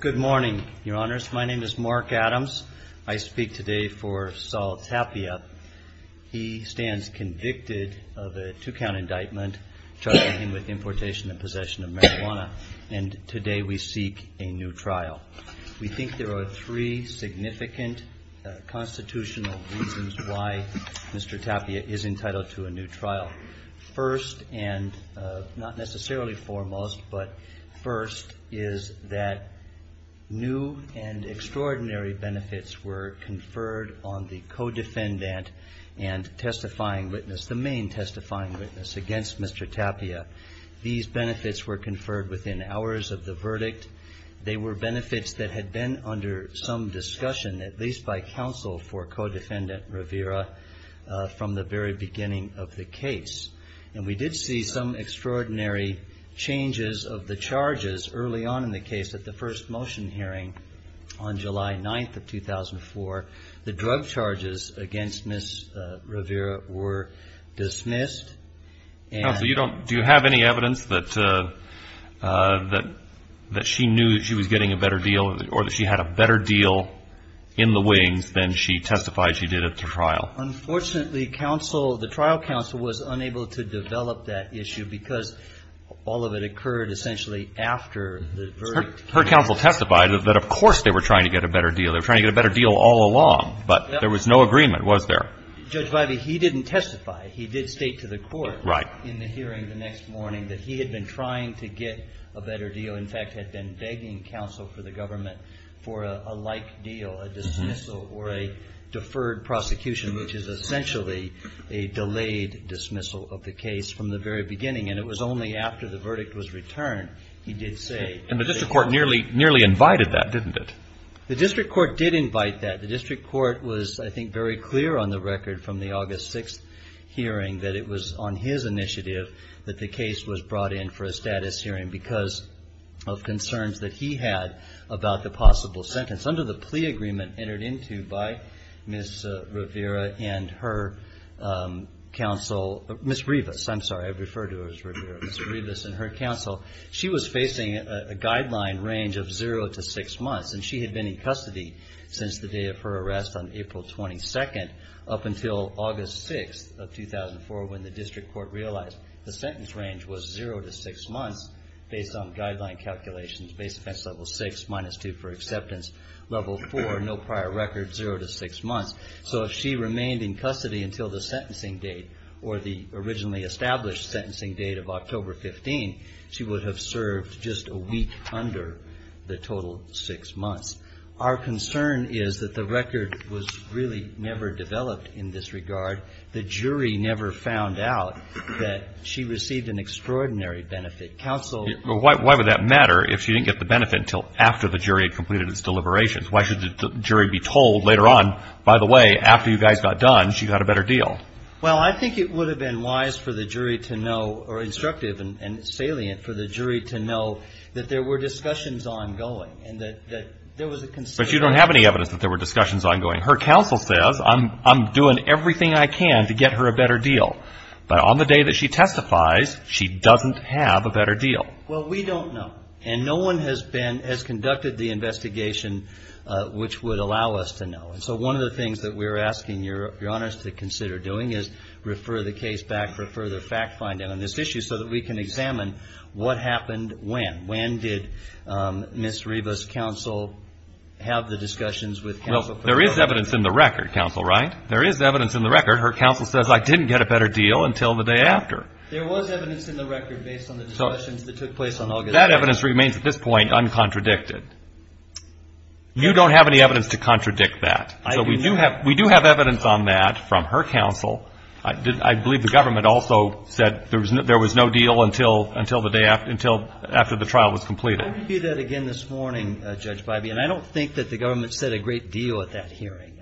Good morning, Your Honors. My name is Mark Adams. I speak today for Saul Tapia. He stands convicted of a two-count indictment, charging him with importation and possession of marijuana, and today we seek a new trial. We think there are three significant constitutional reasons why Mr. Tapia is entitled to a new trial. First, and not necessarily foremost, but first, is that new and extraordinary benefits were conferred on the co-defendant and testifying witness, the main testifying witness against Mr. Tapia. These benefits were conferred within hours of the verdict. They were benefits that had been under some discussion, at least by counsel for co-defendant Rivera, from the very beginning of the case. And we did see some extraordinary changes of the charges early on in the case at the first motion hearing on July 9th of 2004. The drug charges against Ms. Rivera were dismissed and Mr. Tapia was acquitted. And we did see some extraordinary changes of the charges early on in the case at the first motion hearing on July 9th of 2004. The drug charges against Ms. Rivera were dismissed and Mr. Tapia was acquitted. And the district court nearly invited that, didn't it? The district court did invite that. The district court was, I think, very clear on the record from the August 6th hearing that it was on his initiative that the case was brought in for a status hearing because of concerns that he had about the possible sentence. Under the plea agreement entered into by Ms. Rivera and her counsel, Ms. Rivas, I'm sorry, I referred to her as Rivera, Ms. Rivas and her counsel, she was facing a guideline range of zero to six months. Based on guideline calculations, base offense level six, minus two for acceptance, level four, no prior record, zero to six months. So if she remained in custody until the sentencing date or the originally established sentencing date of October 15, she would have served just a week under the total six months. Our concern is that the record was really never developed in this regard. The jury never found out that she received an extraordinary benefit. Counsel ---- But why would that matter if she didn't get the benefit until after the jury had completed its deliberations? Why should the jury be told later on, by the way, after you guys got done, she got a better deal? Well, I think it would have been wise for the jury to know or instructive and salient for the jury to know that there were discussions ongoing and that there was a consideration But you don't have any evidence that there were discussions ongoing. Her counsel says, I'm doing everything I can to get her a better deal. But on the day that she testifies, she doesn't have a better deal. Well, we don't know. And no one has conducted the investigation which would allow us to know. So one of the things that we're asking your honors to consider doing is refer the case back for further fact-finding on this issue so that we can examine what happened when. When did Ms. Rivas' counsel have the discussions with counsel? There is evidence in the record, counsel, right? There is evidence in the record. Her counsel says, I didn't get a better deal until the day after. There was evidence in the record based on the discussions that took place on August 9th. That evidence remains, at this point, uncontradicted. You don't have any evidence to contradict that. So we do have evidence on that from her counsel. I believe the government also said there was no deal until the day after the trial was completed. I repeat that again this morning, Judge Bybee, and I don't think that the government said a great deal at that hearing.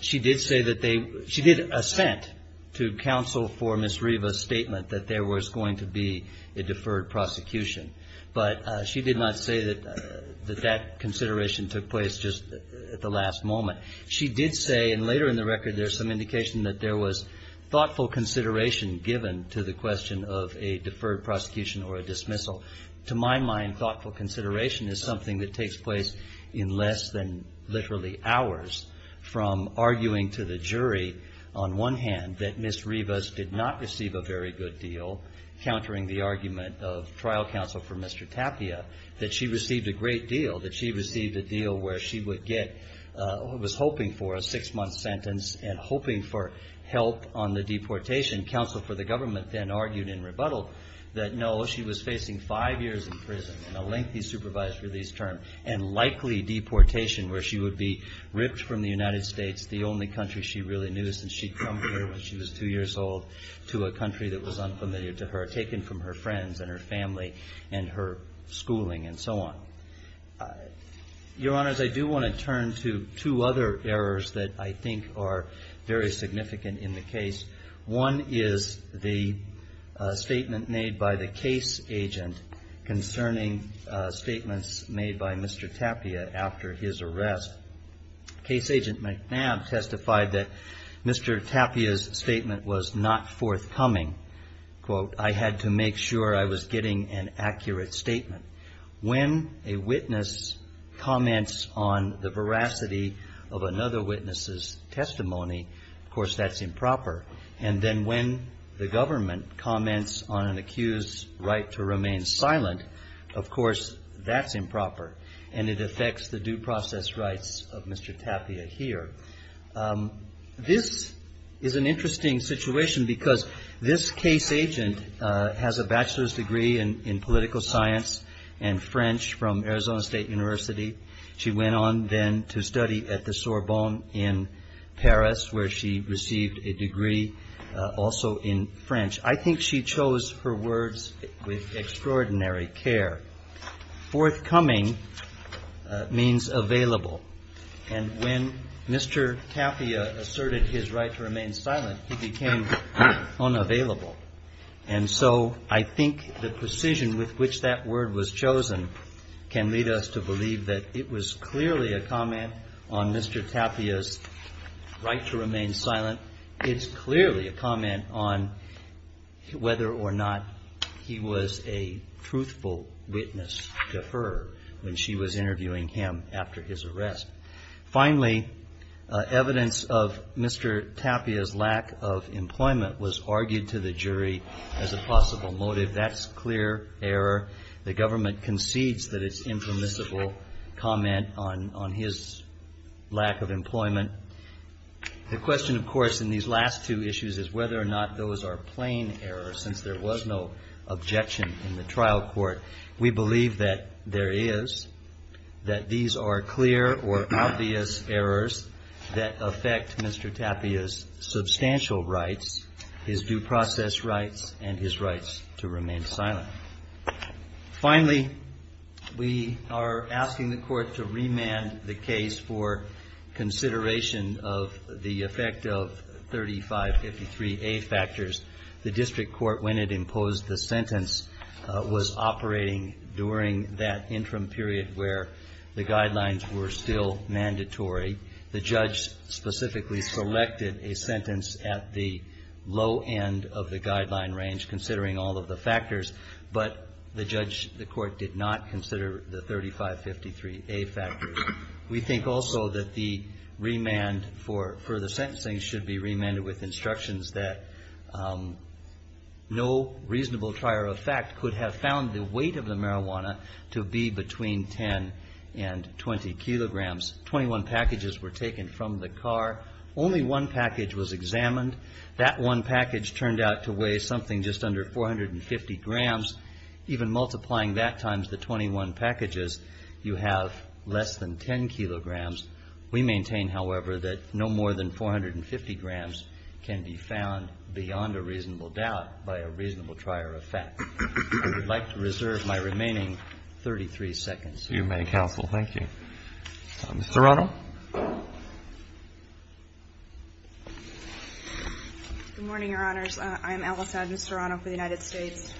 She did say that they, she did assent to counsel for Ms. Rivas' statement that there was going to be a deferred prosecution. But she did not say that that consideration took place just at the last moment. She did say, and later in the record there's some indication that there was thoughtful consideration given to the question of a deferred prosecution or a dismissal. To my mind, thoughtful consideration is something that takes place in less than literally hours from arguing to the jury, on one hand, that Ms. Rivas did not receive a very good deal, countering the argument of trial counsel for Mr. Tapia, that she received a great deal, that she received a deal where she would get, was hoping for a six-month sentence and hoping for help on the deportation. Counsel for the government then argued in rebuttal that no, she was facing five years in prison and a lengthy supervised release term and likely deportation where she would be ripped from the United States, the only country she really knew since she'd come here when she was two years old to a country that was unfamiliar to her, taken from her friends and her family and her schooling and so on. Your Honors, I do want to turn to two other errors that I think are very significant in the case. One is the statement made by the case agent concerning statements made by Mr. Tapia after his arrest. Case agent McNabb testified that Mr. Tapia's statement was not forthcoming. Quote, I had to make sure I was getting an accurate statement. When a witness comments on the veracity of another witness's testimony, of course, that's improper. And then when the government comments on an accused's right to remain silent, of course, that's improper. And it affects the due process rights of Mr. Tapia here. This is an interesting situation because this case agent has a bachelor's degree in political science and French from Arizona State University. She went on then to study at the Sorbonne in Paris where she received a degree also in French. I think she chose her words with extraordinary care. Forthcoming means available. And when Mr. Tapia asserted his right to remain silent, he became unavailable. And so I think the precision with which that word was chosen can lead us to believe that it was clearly a comment on Mr. Tapia's right to remain silent. It's clearly a comment on whether or not he was a truthful witness to her when she was interviewing him after his arrest. Finally, evidence of Mr. Tapia's lack of employment was argued to the jury as a possible motive. That's clear error. The government concedes that it's impermissible comment on his lack of employment. The question, of course, in these last two issues is whether or not those are plain errors since there was no objection in the trial court. We believe that there is, that these are clear or obvious errors that affect Mr. Tapia's substantial rights, his due process rights, and his rights to remain silent. Finally, we are asking the Court to remand the case for consideration of the effect of 3553A factors. The district court, when it imposed the sentence, was operating during that interim period where the guidelines were still mandatory. The judge specifically selected a sentence at the low end of the guideline range considering all of the factors, but the judge, the court did not consider the 3553A factors. We think also that the remand for further sentencing should be remanded with instructions that no reasonable trier of fact could have found the weight of the marijuana to be between 10 and 20 kilograms. The judge did not consider the fact that the weight of the marijuana to be between 10 and 20 kilograms. The judge did not consider the fact that the weight of the marijuana to be between 10 and 20 kilograms. I would like to reserve my remaining 33 seconds. You may, Counsel. Thank you. Ms. Serrano? Good morning, Your Honors. I'm Alice Adams Serrano for the United States.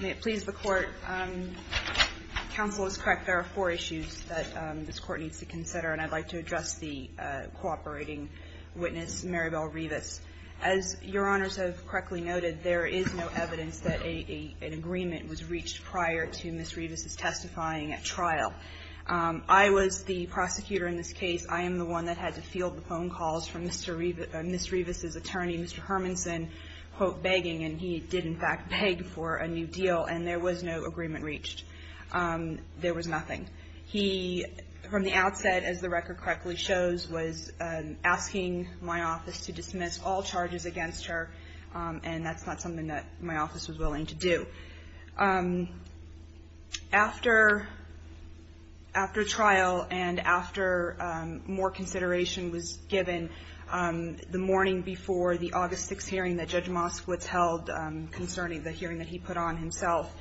May it please the Court, Counsel is correct, there are four issues that this Court needs to consider, and I'd like to address the cooperating witness, Maribel Rivas. As Your Honors have correctly noted, there is no evidence that an agreement was reached prior to Ms. Rivas' testifying at trial. I was the prosecutor in this case. I am the one that had to field the phone calls from Ms. Rivas' attorney, Mr. Hermanson, quote, begging, and he did in fact beg for a new deal, and there was no agreement reached. There was nothing. He, from the outset, as the record correctly shows, was asking my office to dismiss all charges against her, and that's not something that my office was willing to do. After trial and after more consideration was given the morning before the August 6th hearing that Judge Moskowitz held concerning the hearing that he put on himself,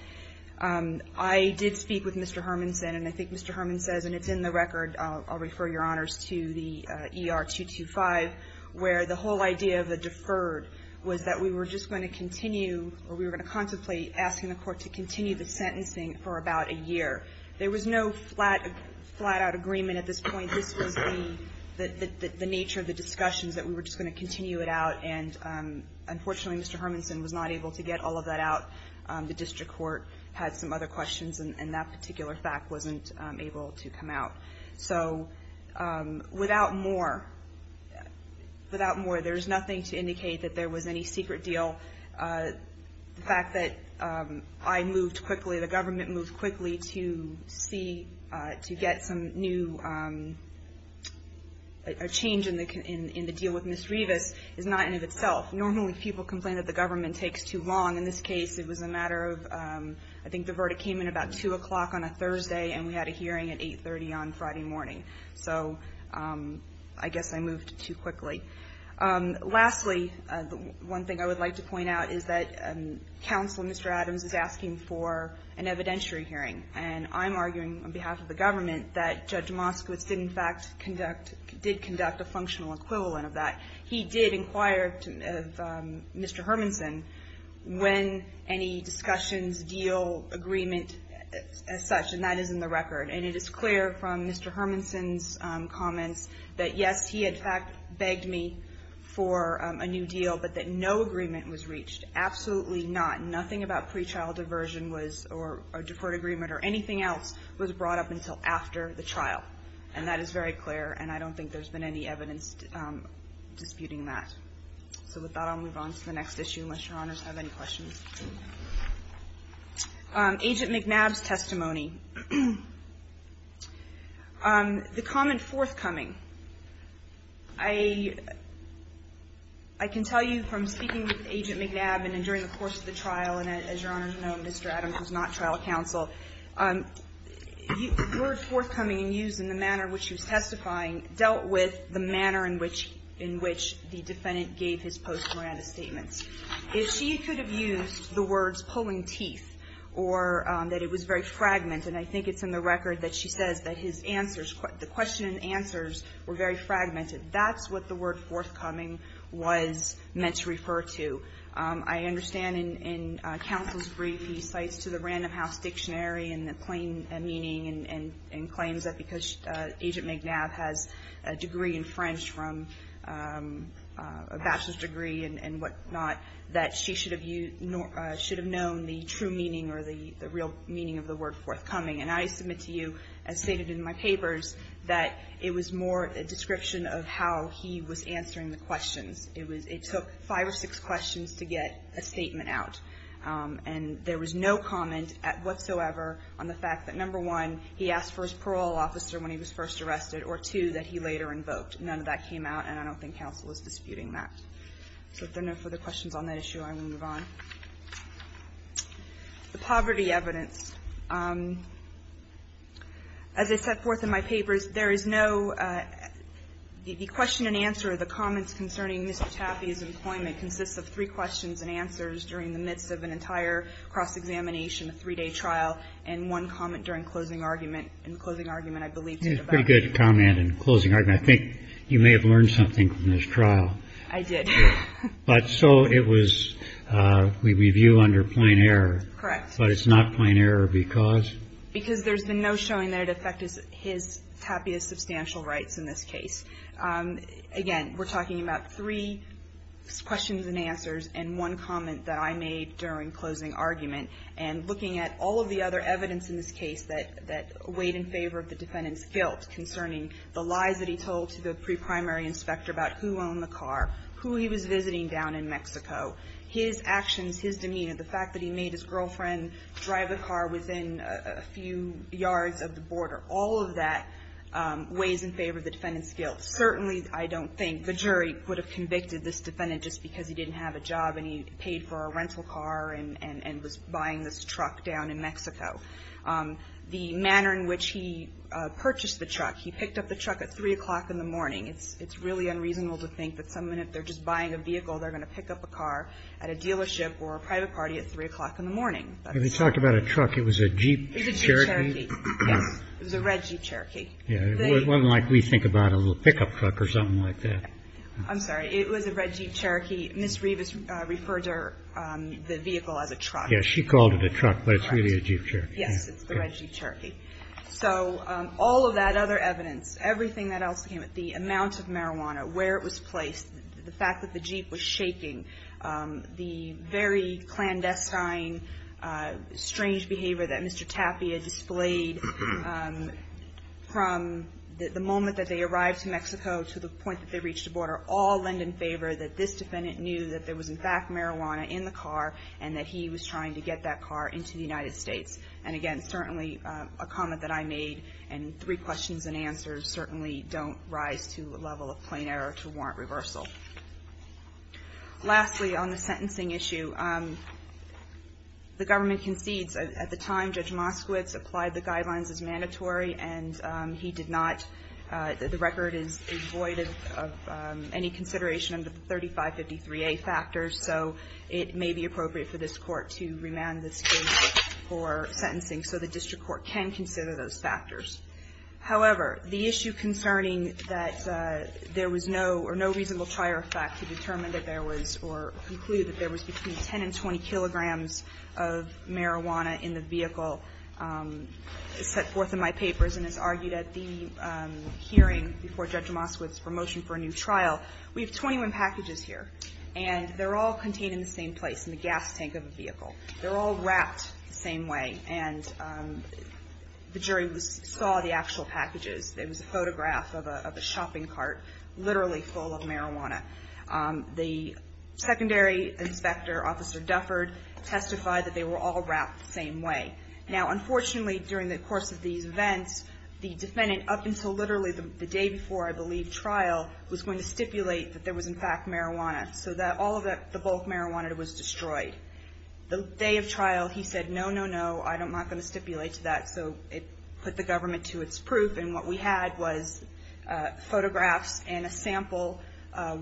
I did speak with Mr. Hermanson, and I think Mr. Hermanson says, and it's in the record, I'll refer Your Honors to the ER-225, where the whole idea of the deferred was that we were just going to continue, or we were going to contemplate, asking the Court to dismiss all charges against Ms. Rivas. We would continue the sentencing for about a year. There was no flat-out agreement at this point. This was the nature of the discussions, that we were just going to continue it out, and unfortunately, Mr. Hermanson was not able to get all of that out. The district court had some other questions, and that particular fact wasn't able to come out. So, without more, there's nothing to indicate that there was any secret deal. The fact that I moved quickly, the government moved quickly to see, to get some new, a change in the deal with Ms. Rivas is not in and of itself. Normally, people complain that the government takes too long. In this case, it was a matter of, I think the verdict came in about 2 o'clock on a Thursday, and we had a hearing at 830 on Friday morning. So, I guess I moved too quickly. Lastly, one thing I would like to point out is that Counselor Mr. Adams is asking for an evidentiary hearing, and I'm arguing on behalf of the government that Judge Moskowitz did, in fact, conduct a functional equivalent of that. He did inquire of Mr. Hermanson when any discussions, deal, agreement, as such, and that is in the record, and it is clear from Mr. Hermanson's comments that, yes, he, in fact, begged me for a new deal, but that no agreement was reached. Absolutely not. Nothing about pre-trial diversion was, or deferred agreement, or anything else was brought up until after the trial. And that is very clear, and I don't think there's been any evidence disputing that. So, with that, I'll move on to the next issue, unless Your Honors have any questions. Agent McNabb's testimony. The comment forthcoming. I can tell you from speaking with Agent McNabb, and during the course of the trial, and as Your Honors know, Mr. Adams was not trial counsel. The word forthcoming and used in the manner in which he was testifying dealt with the manner in which the defendant gave his post-mortem statements. If she could have used the words pulling teeth, or that it was very fragmented, and I think it's in the record that she says that his answers, the question and answers were very fragmented, that's what the word forthcoming was meant to refer to. I understand in counsel's brief, he cites to the Random House Dictionary in the plain meaning and claims that because Agent McNabb has a degree in French, from a bachelor's degree and whatnot, that she should have known the true meaning or the real meaning of the word forthcoming. And I submit to you, as stated in my papers, that it was more a description of how he was answering the questions. It took five or six questions to get a statement out. And there was no comment whatsoever on the fact that number one, he asked for his parole officer when he was first arrested, or two, that he later invoked. None of that came out, and I don't think counsel is disputing that. So if there are no further questions on that issue, I will move on. The poverty evidence. As I set forth in my papers, there is no question and answer. The comments concerning Mr. Taffey's employment consists of three questions and answers during the midst of an entire cross-examination, a three-day trial, and one comment during closing argument. And the closing argument, I believe, is about... It's a pretty good comment in closing argument. I think you may have learned something from this trial. I did. But so it was, we review under plain error. Correct. But it's not plain error because? Because there's been no showing that it affected his tappiest substantial rights in this case. Again, we're talking about three questions and answers and one comment that I made during closing argument. And looking at all of the other evidence in this case that weighed in favor of the defendant's guilt, concerning the lies that he told to the pre-primary inspector about who owned the car, who he was visiting down in Mexico, his actions, his demeanor, the fact that he made his girlfriend drive a car within a few yards of the border, all of that weighs in favor of the defendant's guilt. Certainly, I don't think the jury would have convicted this defendant just because he didn't have a job and he paid for a rental car and was buying this truck down in Mexico. The manner in which he purchased the truck, he picked up the truck at 3 o'clock in the morning. It's really unreasonable to think that someone, if they're just buying a vehicle, they're going to pick up a car at a dealership or a private party at 3 o'clock in the morning. We talked about a truck. It was a Jeep. It was a Jeep Cherokee. Yes. It was a red Jeep Cherokee. It wasn't like we think about a little pickup truck or something like that. I'm sorry. It was a red Jeep Cherokee. Ms. Rivas referred to the vehicle as a truck. Yes. She called it a truck, but it's really a Jeep Cherokee. Yes. It's the red Jeep Cherokee. So all of that other evidence, everything that else came with it, the amount of marijuana, where it was placed, the fact that the Jeep was shaking, the very clandestine, strange behavior that Mr. Tapia displayed from the moment that they arrived in Mexico to the point that they reached the border, all lend in favor that this defendant knew that there was, in fact, marijuana in the car and that he was trying to get that car into the United States. And, again, certainly a comment that I made and three questions and answers certainly don't rise to a level of plain error to warrant reversal. Lastly, on the sentencing issue, the government concedes. At the time, Judge Moskowitz applied the guidelines as mandatory, and he did not. The record is void of any consideration under the 3553A factors, so it may be appropriate for this Court to remand this case for sentencing so the district court can consider those factors. However, the issue concerning that there was no or no reasonable prior effect to determine that there was or conclude that there was between 10 and 20 kilograms of marijuana in the vehicle set forth in my papers and is argued at the hearing before Judge Moskowitz for motion for a new trial. We have 21 packages here, and they're all contained in the same place, in the gas tank of a vehicle. They're all wrapped the same way, and the jury saw the actual packages. There was a photograph of a shopping cart literally full of marijuana. The secondary inspector, Officer Dufford, testified that they were all wrapped the same way. Now, unfortunately, during the course of these events, the defendant, up until literally the day before, I believe, trial, was going to stipulate that there was, in fact, marijuana, so that all of the bulk marijuana was destroyed. The day of trial, he said, no, no, no, I'm not going to stipulate to that, so it put the government to its proof, and what we had was photographs and a sample,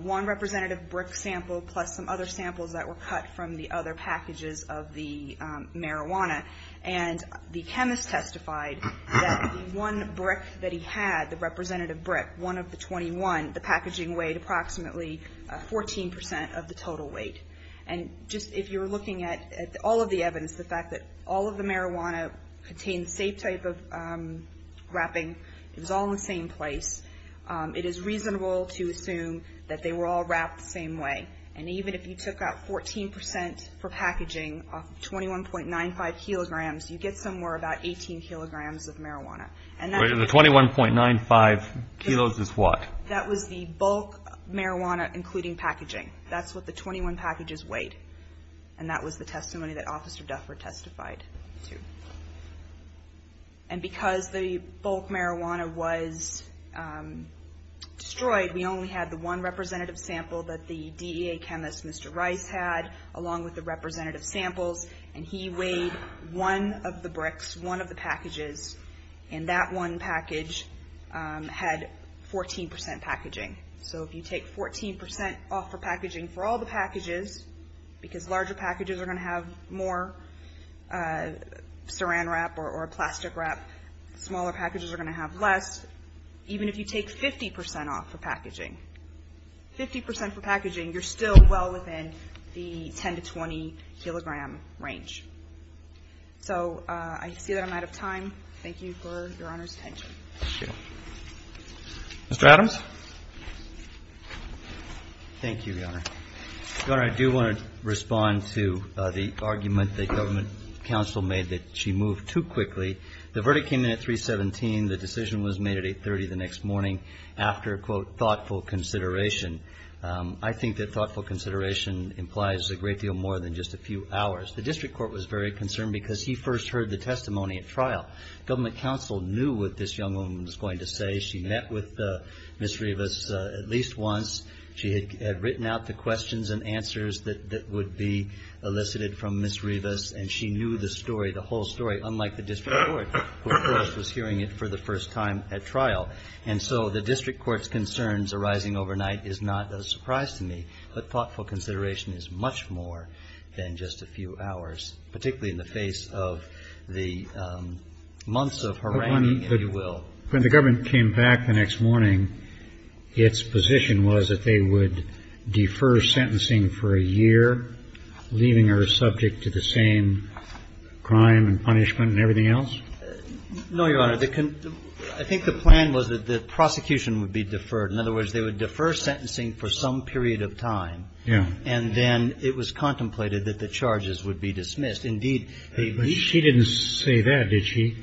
one representative brick sample, plus some other samples that were cut from the other packages of the marijuana. And the chemist testified that the one brick that he had, the representative brick, one of the 21, the packaging weighed approximately 14 percent of the total weight. And just if you're looking at all of the evidence, the fact that all of the marijuana contained the same type of wrapping, it was all in the same place, it is reasonable to assume that they were all wrapped the same way. And even if you took out 14 percent for packaging of 21.95 kilograms, you get somewhere about 18 kilograms of marijuana. And that was the bulk marijuana, including packaging. That's what the 21 packages weighed. And that was the testimony that Officer Dufford testified to. And because the bulk marijuana was destroyed, we only had the one representative sample that the DEA chemist, Mr. Rice, had, along with the representative samples, and he weighed one of the bricks, one of the packages, and that one package had 14 percent packaging. So if you take 14 percent off for packaging for all the packages, even if you take 50 percent off for packaging, 50 percent for packaging, you're still well within the 10 to 20-kilogram range. So I see that I'm out of time. Thank you for Your Honor's attention. Roberts. Mr. Adams. Thank you, Your Honor. Your Honor, I do want to respond to the argument that Government Council made that she moved too quickly. The verdict came in at 3.17. The decision was made at 8.30 the next morning after, quote, thoughtful consideration. I think that thoughtful consideration implies a great deal more than just a few hours. The district court was very concerned because he first heard the testimony at trial. Ms. Rivas, at least once, she had written out the questions and answers that would be elicited from Ms. Rivas, and she knew the story, the whole story, unlike the district court, which of course was hearing it for the first time at trial. And so the district court's concerns arising overnight is not a surprise to me, but thoughtful consideration is much more than just a few hours, particularly in the face of the months of haranguing, if you will. When the government came back the next morning, its position was that they would defer sentencing for a year, leaving her subject to the same crime and punishment and everything else? No, Your Honor. I think the plan was that the prosecution would be deferred. In other words, they would defer sentencing for some period of time. Yeah. And then it was contemplated that the charges would be dismissed. Indeed. But she didn't say that, did she?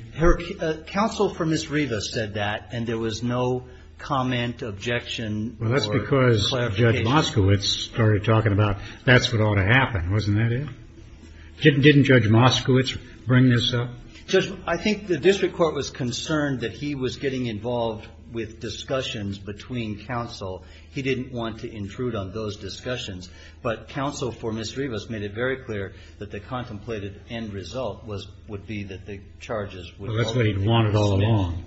Counsel for Ms. Rivas said that, and there was no comment, objection or clarification. Well, that's because Judge Moskowitz started talking about that's what ought to happen, wasn't that it? Didn't Judge Moskowitz bring this up? Judge, I think the district court was concerned that he was getting involved with discussions between counsel. He didn't want to intrude on those discussions, but counsel for Ms. Rivas made it very clear that the contemplated end result would be that the charges would ultimately be dismissed. Well, that's what he'd wanted all along.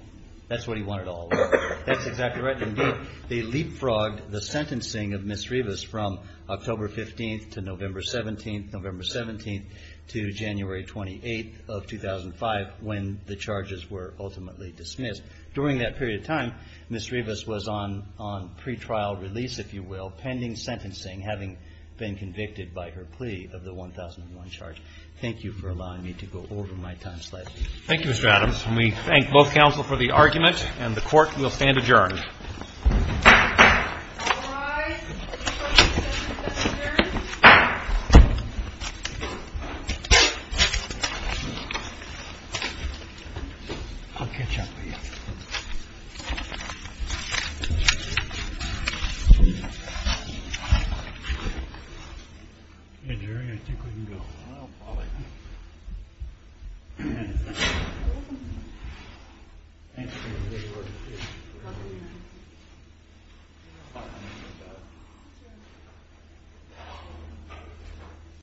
That's what he wanted all along. That's exactly right. Indeed. They leapfrogged the sentencing of Ms. Rivas from October 15th to November 17th, November 17th to January 28th of 2005, when the charges were ultimately dismissed. During that period of time, Ms. Rivas was on pretrial release, if you will, pending sentencing, having been convicted by her plea of the 1001 charge. Thank you for allowing me to go over my time slightly. Thank you, Mr. Adams. And we thank both counsel for the argument, and the court will stand adjourned. All rise. I'll catch up with you. Yeah, Jerry, I think we can go. Well, probably. Thank you.